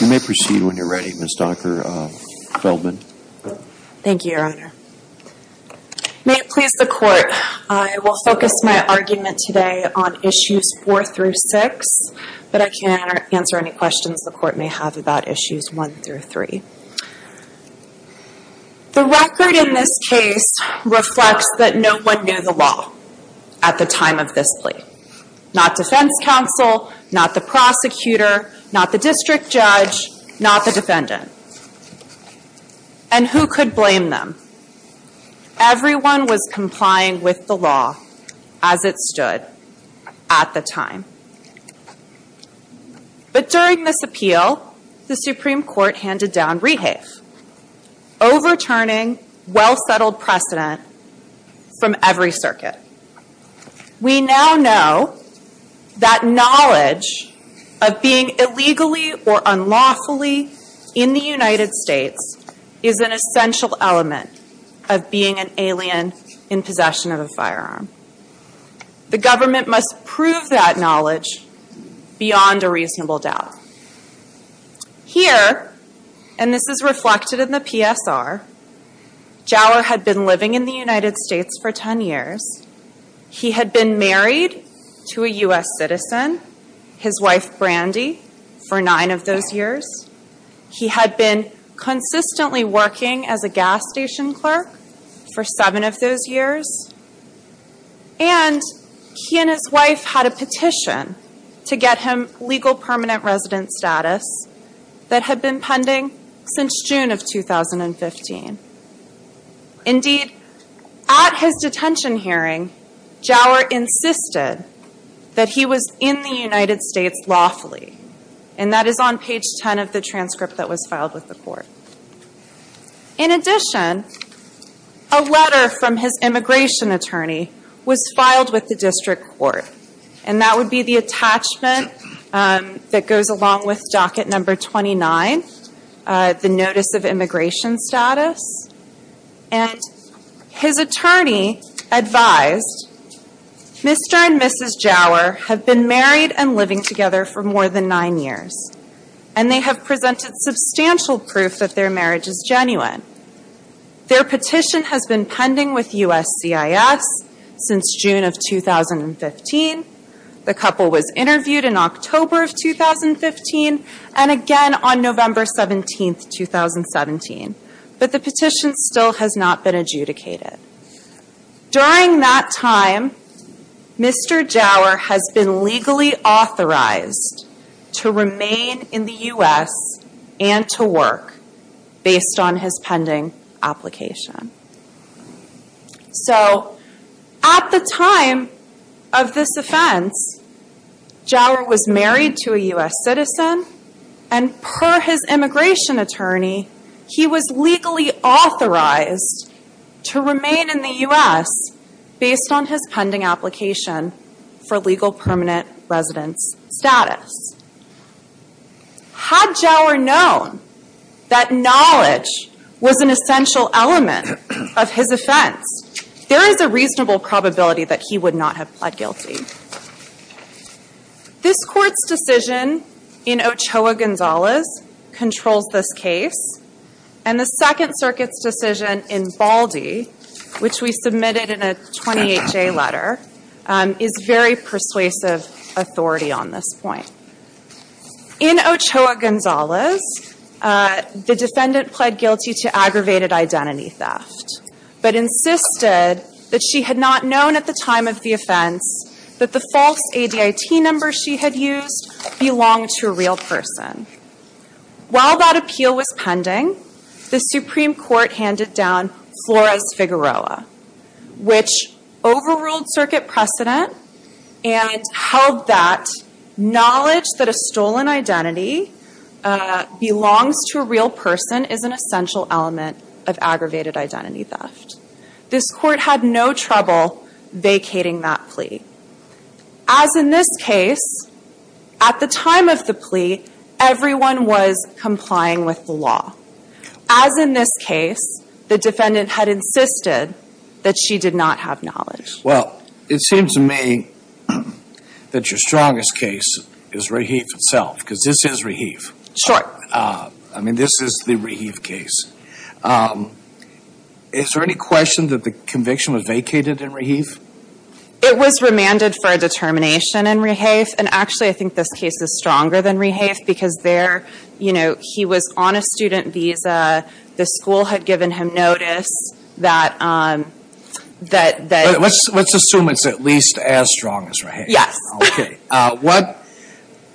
You may proceed when you're ready, Ms. Dr. Feldman. Thank you, your honor. May it please the court, I will focus my argument today on issues four through six, but I can answer any questions the court may have about issues one through three. The record in this case reflects that no one knew the law at the time of this plea. Not defense counsel, not the prosecutor, not the district judge, not the defendant. And who could blame them? Everyone was complying with the law as it stood at the time. But during this appeal, the Supreme Court handed down rehafe, overturning well-settled precedent from every circuit. We now know that knowledge of being illegally or unlawfully in the United States is an essential element of being an alien in possession of a firearm. The government must prove that knowledge beyond a reasonable doubt. Here, and this is reflected in the PSR, Jawher had been living in the United States for ten years. He had been married to a U.S. citizen, his wife Brandy, for nine of those years. He had been consistently working as a gas station clerk for seven of those years. And he and his wife had a petition to get him legal permanent resident status that had been pending since June of 2015. Indeed, at his detention hearing, Jawher insisted that he was in the United States lawfully. And that is on page ten of the transcript that was filed with the court. In addition, a letter from his immigration attorney was filed with the district court. And that would be the attachment that goes along with docket number 29, the notice of immigration status. And his attorney advised, Mr. and Mrs. Jawher have been married and living together for more than nine years. And they have presented substantial proof that their marriage is genuine. Their petition has been pending with USCIS since June of 2015. The couple was interviewed in October of 2015 and again on November 17, 2017. But the petition still has not been adjudicated. During that time, Mr. Jawher has been legally authorized to remain in the U.S. and to work based on his pending application. So, at the time of this offense, Jawher was married to a U.S. citizen. And per his immigration attorney, he was legally authorized to remain in the U.S. based on his pending application for legal permanent residence status. Had Jawher known that knowledge was an essential element of his offense, there is a reasonable probability that he would not have pled guilty. This Court's decision in Ochoa-Gonzalez controls this case. And the Second Circuit's decision in Baldy, which we submitted in a 28-J letter, is very persuasive authority on this point. In Ochoa-Gonzalez, the defendant pled guilty to aggravated identity theft, but insisted that she had not known at the time of the offense that the false ADIT number she had used belonged to a real person. While that appeal was pending, the Supreme Court handed down Flores-Figueroa, which overruled Circuit precedent and held that knowledge that a stolen identity belongs to a real person is an essential element of aggravated identity theft. This Court had no trouble vacating that plea. As in this case, at the time of the plea, everyone was complying with the law. As in this case, the defendant had insisted that she did not have knowledge. Well, it seems to me that your strongest case is Raheve itself, because this is Raheve. Sure. I mean, this is the Raheve case. Is there any question that the conviction was vacated in Raheve? It was remanded for a determination in Raheve, and actually I think this case is stronger than Raheve because there, you know, he was on a student visa, the school had given him notice that Let's assume it's at least as strong as Raheve. Yes. Okay.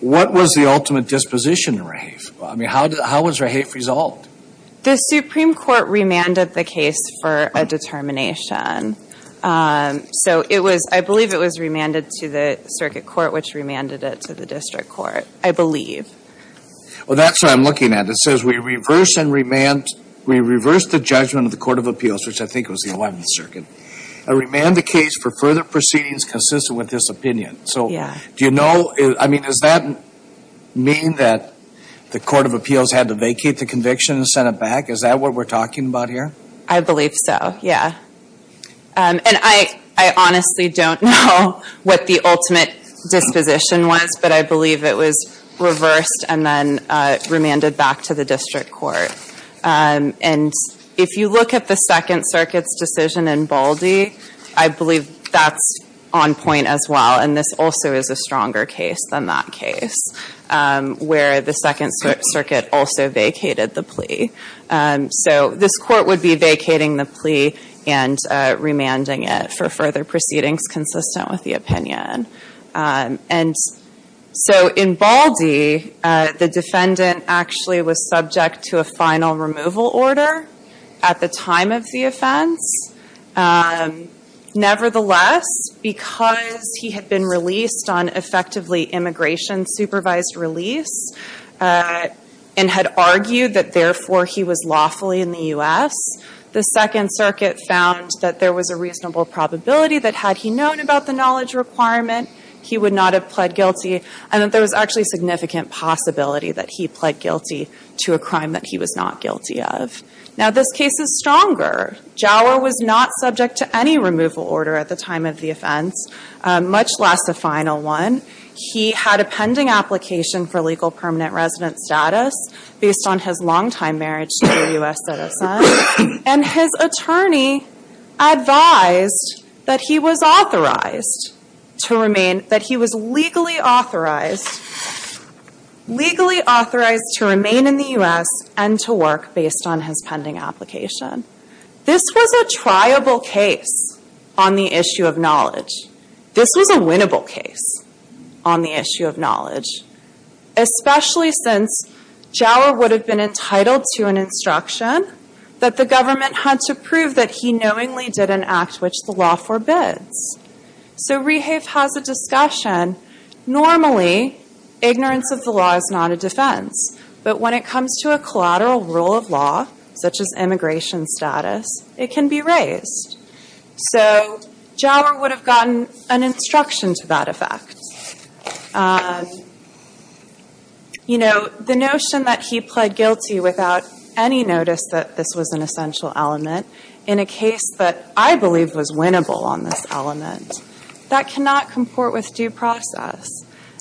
What was the ultimate disposition in Raheve? I mean, how was Raheve resolved? The Supreme Court remanded the case for a determination. So it was, I believe it was remanded to the Circuit Court, which remanded it to the District Court, I believe. Well, that's what I'm looking at. It says we reverse and remand, we reverse the judgment of the Court of Appeals, which I think was the 11th Circuit, and remand the case for further proceedings consistent with this opinion. So do you know, I mean, does that mean that the Court of Appeals had to vacate the conviction and send it back? Is that what we're talking about here? I believe so, yeah. And I honestly don't know what the ultimate disposition was, but I believe it was reversed and then remanded back to the District Court. And if you look at the Second Circuit's decision in Baldy, I believe that's on point as well, and this also is a stronger case than that case, where the Second Circuit also vacated the plea. So this Court would be vacating the plea and remanding it for further proceedings consistent with the opinion. And so in Baldy, the defendant actually was subject to a final removal order at the time of the offense. Nevertheless, because he had been released on effectively immigration supervised release and had argued that therefore he was lawfully in the U.S., the Second Circuit found that there was a reasonable probability that had he known about the knowledge requirement, he would not have pled guilty and that there was actually significant possibility that he pled guilty to a crime that he was not guilty of. Now, this case is stronger. Jauer was not subject to any removal order at the time of the offense, much less a final one. He had a pending application for legal permanent resident status based on his longtime marriage to a U.S. citizen, and his attorney advised that he was legally authorized to remain in the U.S. and to work based on his pending application. This was a triable case on the issue of knowledge. This was a winnable case on the issue of knowledge, especially since Jauer would have been entitled to an instruction that the government had to prove that he knowingly did an act which the law forbids. So Rehave has a discussion. Normally, ignorance of the law is not a defense, but when it comes to a collateral rule of law, such as immigration status, it can be raised. So Jauer would have gotten an instruction to that effect. You know, the notion that he pled guilty without any notice that this was an essential element in a case that I believe was winnable on this element, that cannot comport with due process.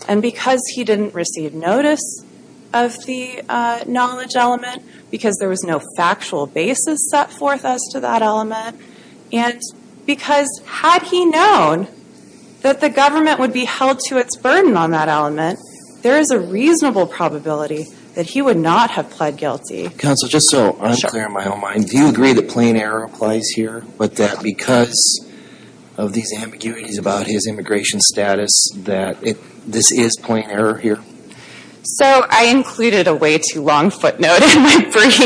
And because he didn't receive notice of the knowledge element, because there was no factual basis set forth as to that element, and because had he known that the government would be held to its burden on that element, there is a reasonable probability that he would not have pled guilty. Counsel, just so I'm clear in my own mind, do you agree that plain error applies here, but that because of these ambiguities about his immigration status that this is plain error here? So I included a way too long footnote in my brief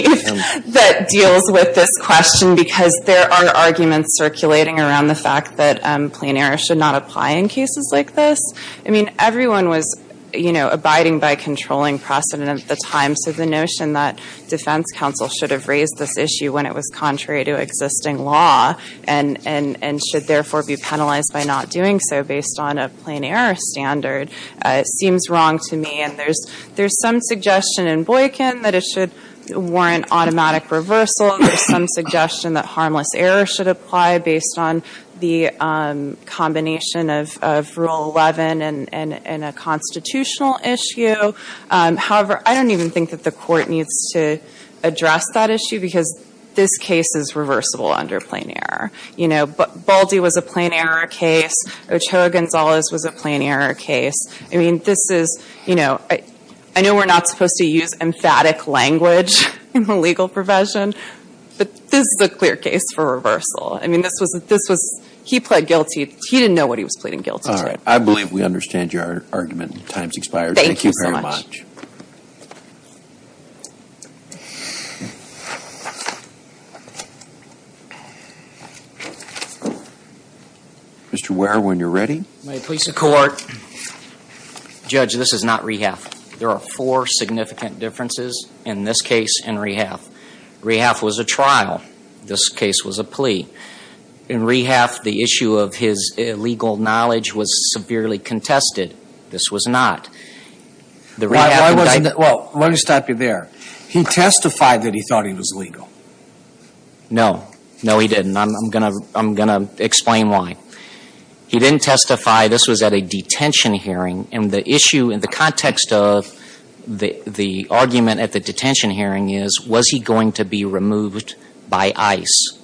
that deals with this question because there are arguments circulating around the fact that plain error should not apply in cases like this. I mean, everyone was, you know, abiding by controlling precedent at the time, so the notion that defense counsel should have raised this issue when it was contrary to existing law and should therefore be penalized by not doing so based on a plain error standard seems wrong to me. And there's some suggestion in Boykin that it should warrant automatic reversal. There's some suggestion that harmless error should apply based on the combination of Rule 11 and a constitutional issue. However, I don't even think that the court needs to address that issue because this case is reversible under plain error. You know, Baldi was a plain error case. Ochoa Gonzalez was a plain error case. I mean, this is, you know, I know we're not supposed to use emphatic language in the legal provision, but this is a clear case for reversal. I mean, this was he pled guilty. He didn't know what he was pleading guilty to. All right. I believe we understand your argument. Time's expired. Thank you very much. Mr. Ware, when you're ready. May it please the Court. Judge, this is not rehalf. There are four significant differences in this case and rehalf. Rehalf was a trial. This case was a plea. In rehalf, the issue of his illegal knowledge was severely contested. The rehalf was a trial. This case was a plea. Well, let me stop you there. He testified that he thought he was legal. No. No, he didn't. I'm going to explain why. He didn't testify. This was at a detention hearing, and the issue in the context of the argument at the detention hearing is, was he going to be removed by ICE?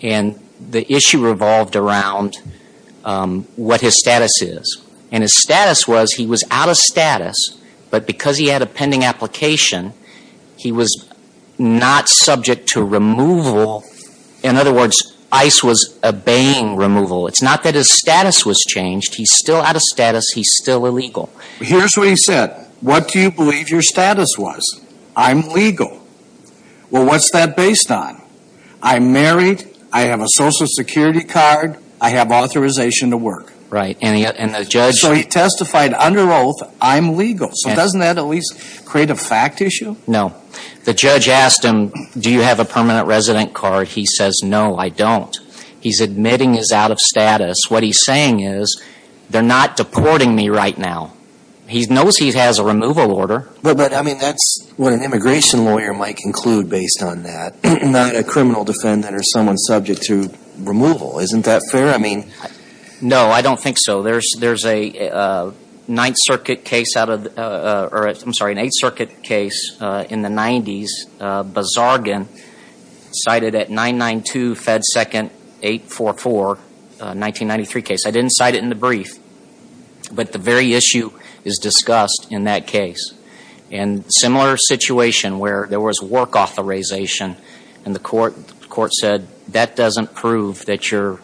And the issue revolved around what his status is. And his status was he was out of status, but because he had a pending application, he was not subject to removal. In other words, ICE was obeying removal. It's not that his status was changed. He's still out of status. He's still illegal. Here's what he said. What do you believe your status was? I'm legal. Well, what's that based on? I'm married. I have a Social Security card. I have authorization to work. Right. So he testified under oath, I'm legal. So doesn't that at least create a fact issue? No. The judge asked him, do you have a permanent resident card? He says, no, I don't. He's admitting he's out of status. What he's saying is, they're not deporting me right now. He knows he has a removal order. But, I mean, that's what an immigration lawyer might conclude based on that, not a criminal defendant or someone subject to removal. Isn't that fair? No, I don't think so. There's an Eighth Circuit case in the 90s, Bazargan, cited at 992 Fed 2nd 844, 1993 case. I didn't cite it in the brief. But the very issue is discussed in that case. And similar situation where there was work authorization, and the court said, that doesn't prove that you're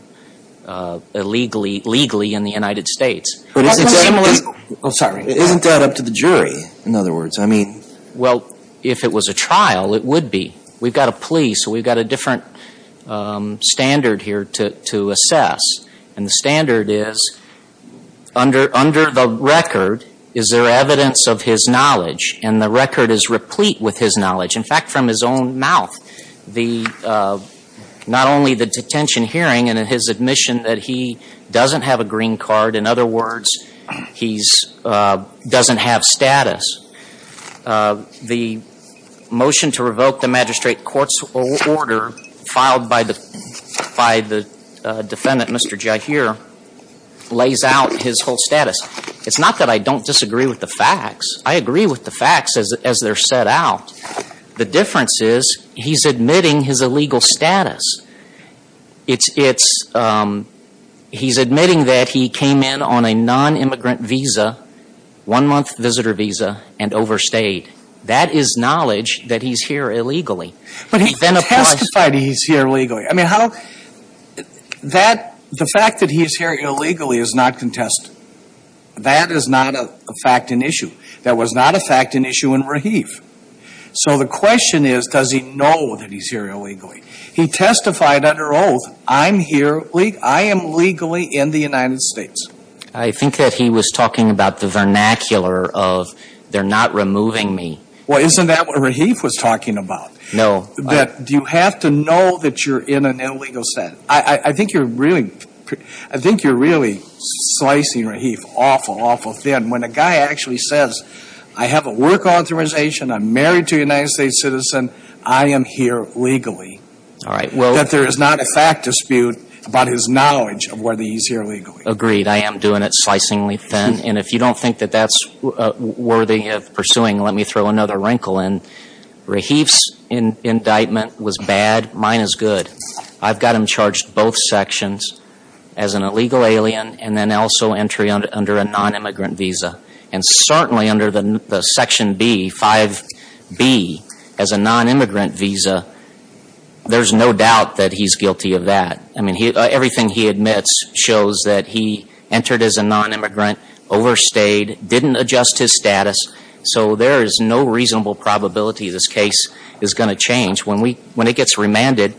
legally in the United States. Isn't that up to the jury, in other words? I mean. Well, if it was a trial, it would be. We've got a plea, so we've got a different standard here to assess. And the standard is, under the record, is there evidence of his knowledge? And the record is replete with his knowledge. In fact, from his own mouth, the, not only the detention hearing and his admission that he doesn't have a green card, in other words, he doesn't have status. The motion to revoke the magistrate court's order filed by the defendant, Mr. Jahir, lays out his whole status. It's not that I don't disagree with the facts. I agree with the facts as they're set out. The difference is, he's admitting his illegal status. It's, he's admitting that he came in on a nonimmigrant visa, one-month visitor visa, and overstayed. That is knowledge that he's here illegally. But he testified he's here illegally. I mean, how, that, the fact that he's here illegally is not contested. That is not a fact and issue. That was not a fact and issue in Rahif. So the question is, does he know that he's here illegally? He testified under oath, I'm here, I am legally in the United States. I think that he was talking about the vernacular of, they're not removing me. Well, isn't that what Rahif was talking about? No. That you have to know that you're in an illegal status. I think you're really, I think you're really slicing Rahif awful, awful thin. And when a guy actually says, I have a work authorization, I'm married to a United States citizen, I am here legally. All right. That there is not a fact dispute about his knowledge of whether he's here illegally. Agreed. I am doing it slicingly thin. And if you don't think that that's worthy of pursuing, let me throw another wrinkle in. Rahif's indictment was bad. Mine is good. I've got him charged both sections as an illegal alien and then also entry under a nonimmigrant visa. And certainly under the section B, 5B, as a nonimmigrant visa, there's no doubt that he's guilty of that. I mean, everything he admits shows that he entered as a nonimmigrant, overstayed, didn't adjust his status. So there is no reasonable probability this case is going to change. When it gets remanded,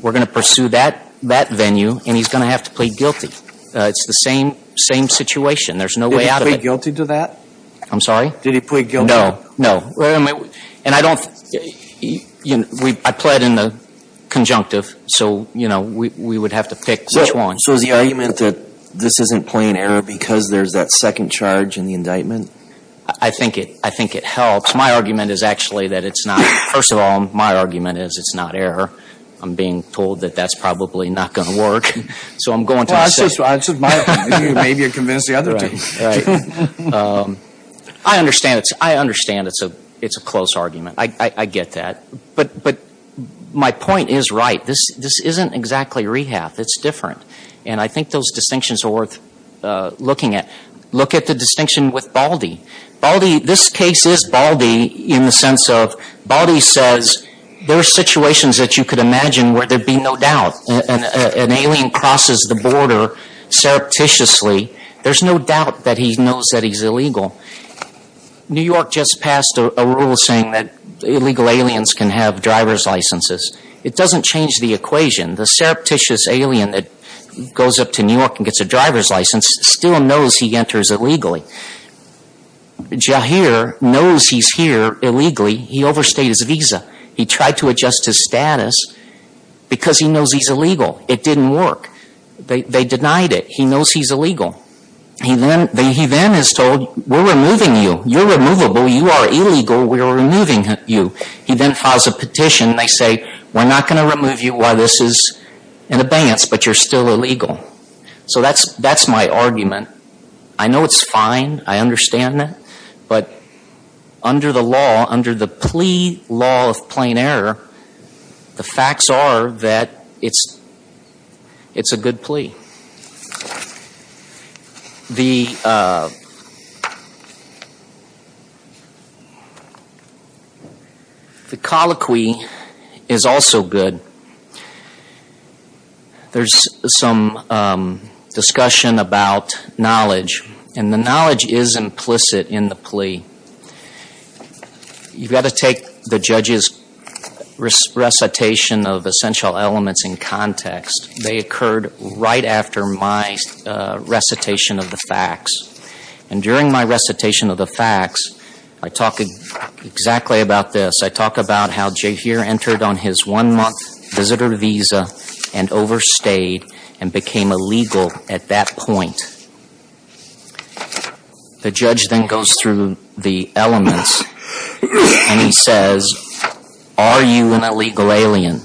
we're going to pursue that venue and he's going to have to plead guilty. It's the same situation. There's no way out of it. Did he plead guilty to that? I'm sorry? Did he plead guilty? No, no. And I don't, I plead in the conjunctive. So, you know, we would have to pick which one. So is the argument that this isn't plain error because there's that second charge in the indictment? I think it helps. My argument is actually that it's not. First of all, my argument is it's not error. I'm being told that that's probably not going to work. So I'm going to say. Well, I said my argument. Maybe you convinced the other two. Right. I understand it's a close argument. I get that. But my point is right. This isn't exactly rehab. It's different. And I think those distinctions are worth looking at. Look at the distinction with Baldy. Baldy, this case is Baldy in the sense of Baldy says there are situations that you could imagine where there'd be no doubt. An alien crosses the border surreptitiously. There's no doubt that he knows that he's illegal. New York just passed a rule saying that illegal aliens can have driver's licenses. It doesn't change the equation. The surreptitious alien that goes up to New York and gets a driver's license still knows he enters illegally. Jahir knows he's here illegally. He overstayed his visa. He tried to adjust his status because he knows he's illegal. It didn't work. They denied it. He knows he's illegal. He then is told we're removing you. You're removable. You are illegal. We are removing you. He then files a petition. They say we're not going to remove you while this is in abeyance, but you're still illegal. So that's my argument. I know it's fine. I understand that. But under the law, under the plea law of plain error, the facts are that it's a good plea. The colloquy is also good. There's some discussion about knowledge, and the knowledge is implicit in the plea. You've got to take the judge's recitation of essential elements in context. They occurred right after my recitation of the facts. And during my recitation of the facts, I talk exactly about this. I talk about how Jahir entered on his one-month visitor visa and overstayed and became illegal at that point. The judge then goes through the elements, and he says, are you an illegal alien?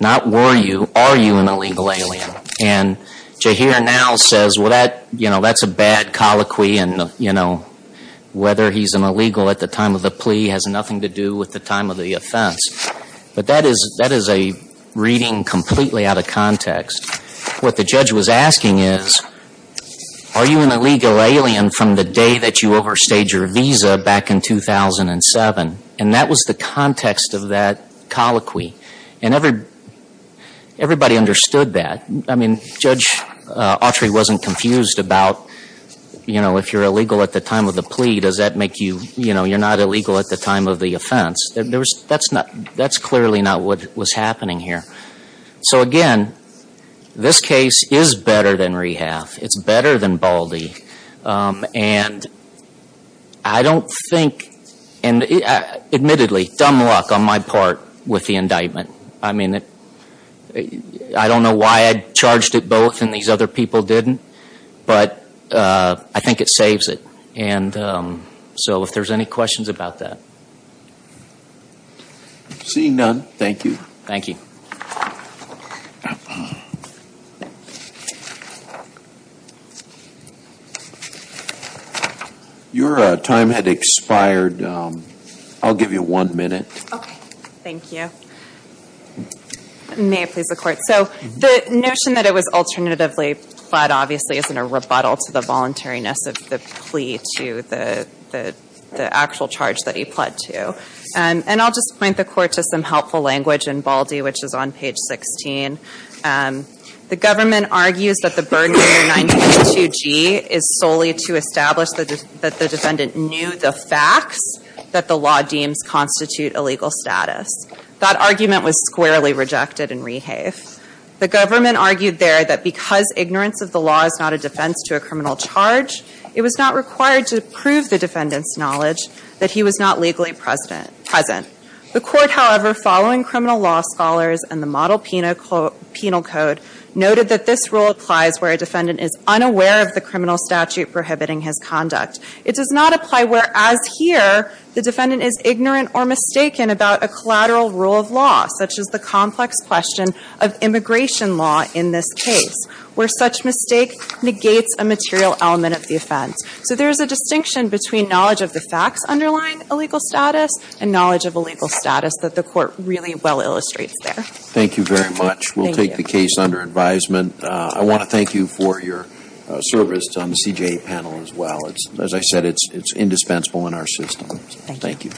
Not were you. Are you an illegal alien? And Jahir now says, well, that's a bad colloquy, and whether he's an illegal at the time of the plea has nothing to do with the time of the offense. But that is a reading completely out of context. What the judge was asking is, are you an illegal alien from the day that you overstayed your visa back in 2007? And that was the context of that colloquy. And everybody understood that. I mean, Judge Autry wasn't confused about, you know, if you're illegal at the time of the plea, does that make you, you know, you're not illegal at the time of the offense. That's clearly not what was happening here. So, again, this case is better than Rehalf. It's better than Baldy. And I don't think, and admittedly, dumb luck on my part with the indictment. I mean, I don't know why I charged it both and these other people didn't, but I think it saves it. And so if there's any questions about that. Seeing none, thank you. Thank you. Your time had expired. I'll give you one minute. Okay. Thank you. May it please the court. So the notion that it was alternatively pled, obviously, is in a rebuttal to the voluntariness of the plea to the actual charge that he pled to. And I'll just point the court to some helpful language in Baldy, which is on page 16. The government argues that the burden under 922G is solely to establish that the defendant knew the facts that the law deems constitute illegal status. That argument was squarely rejected in Rehalf. The government argued there that because ignorance of the law is not a defense to a criminal charge, it was not required to prove the defendant's knowledge that he was not legally present. The court, however, following criminal law scholars and the model penal code, noted that this rule applies where a defendant is unaware of the criminal statute prohibiting his conduct. It does not apply where, as here, the defendant is ignorant or mistaken about a collateral rule of law, such as the complex question of immigration law in this case, where such mistake negates a material element of the offense. So there is a distinction between knowledge of the facts underlying illegal status and knowledge of illegal status that the court really well illustrates there. Thank you very much. We'll take the case under advisement. I want to thank you for your service on the CJA panel as well. As I said, it's indispensable in our system. Thank you.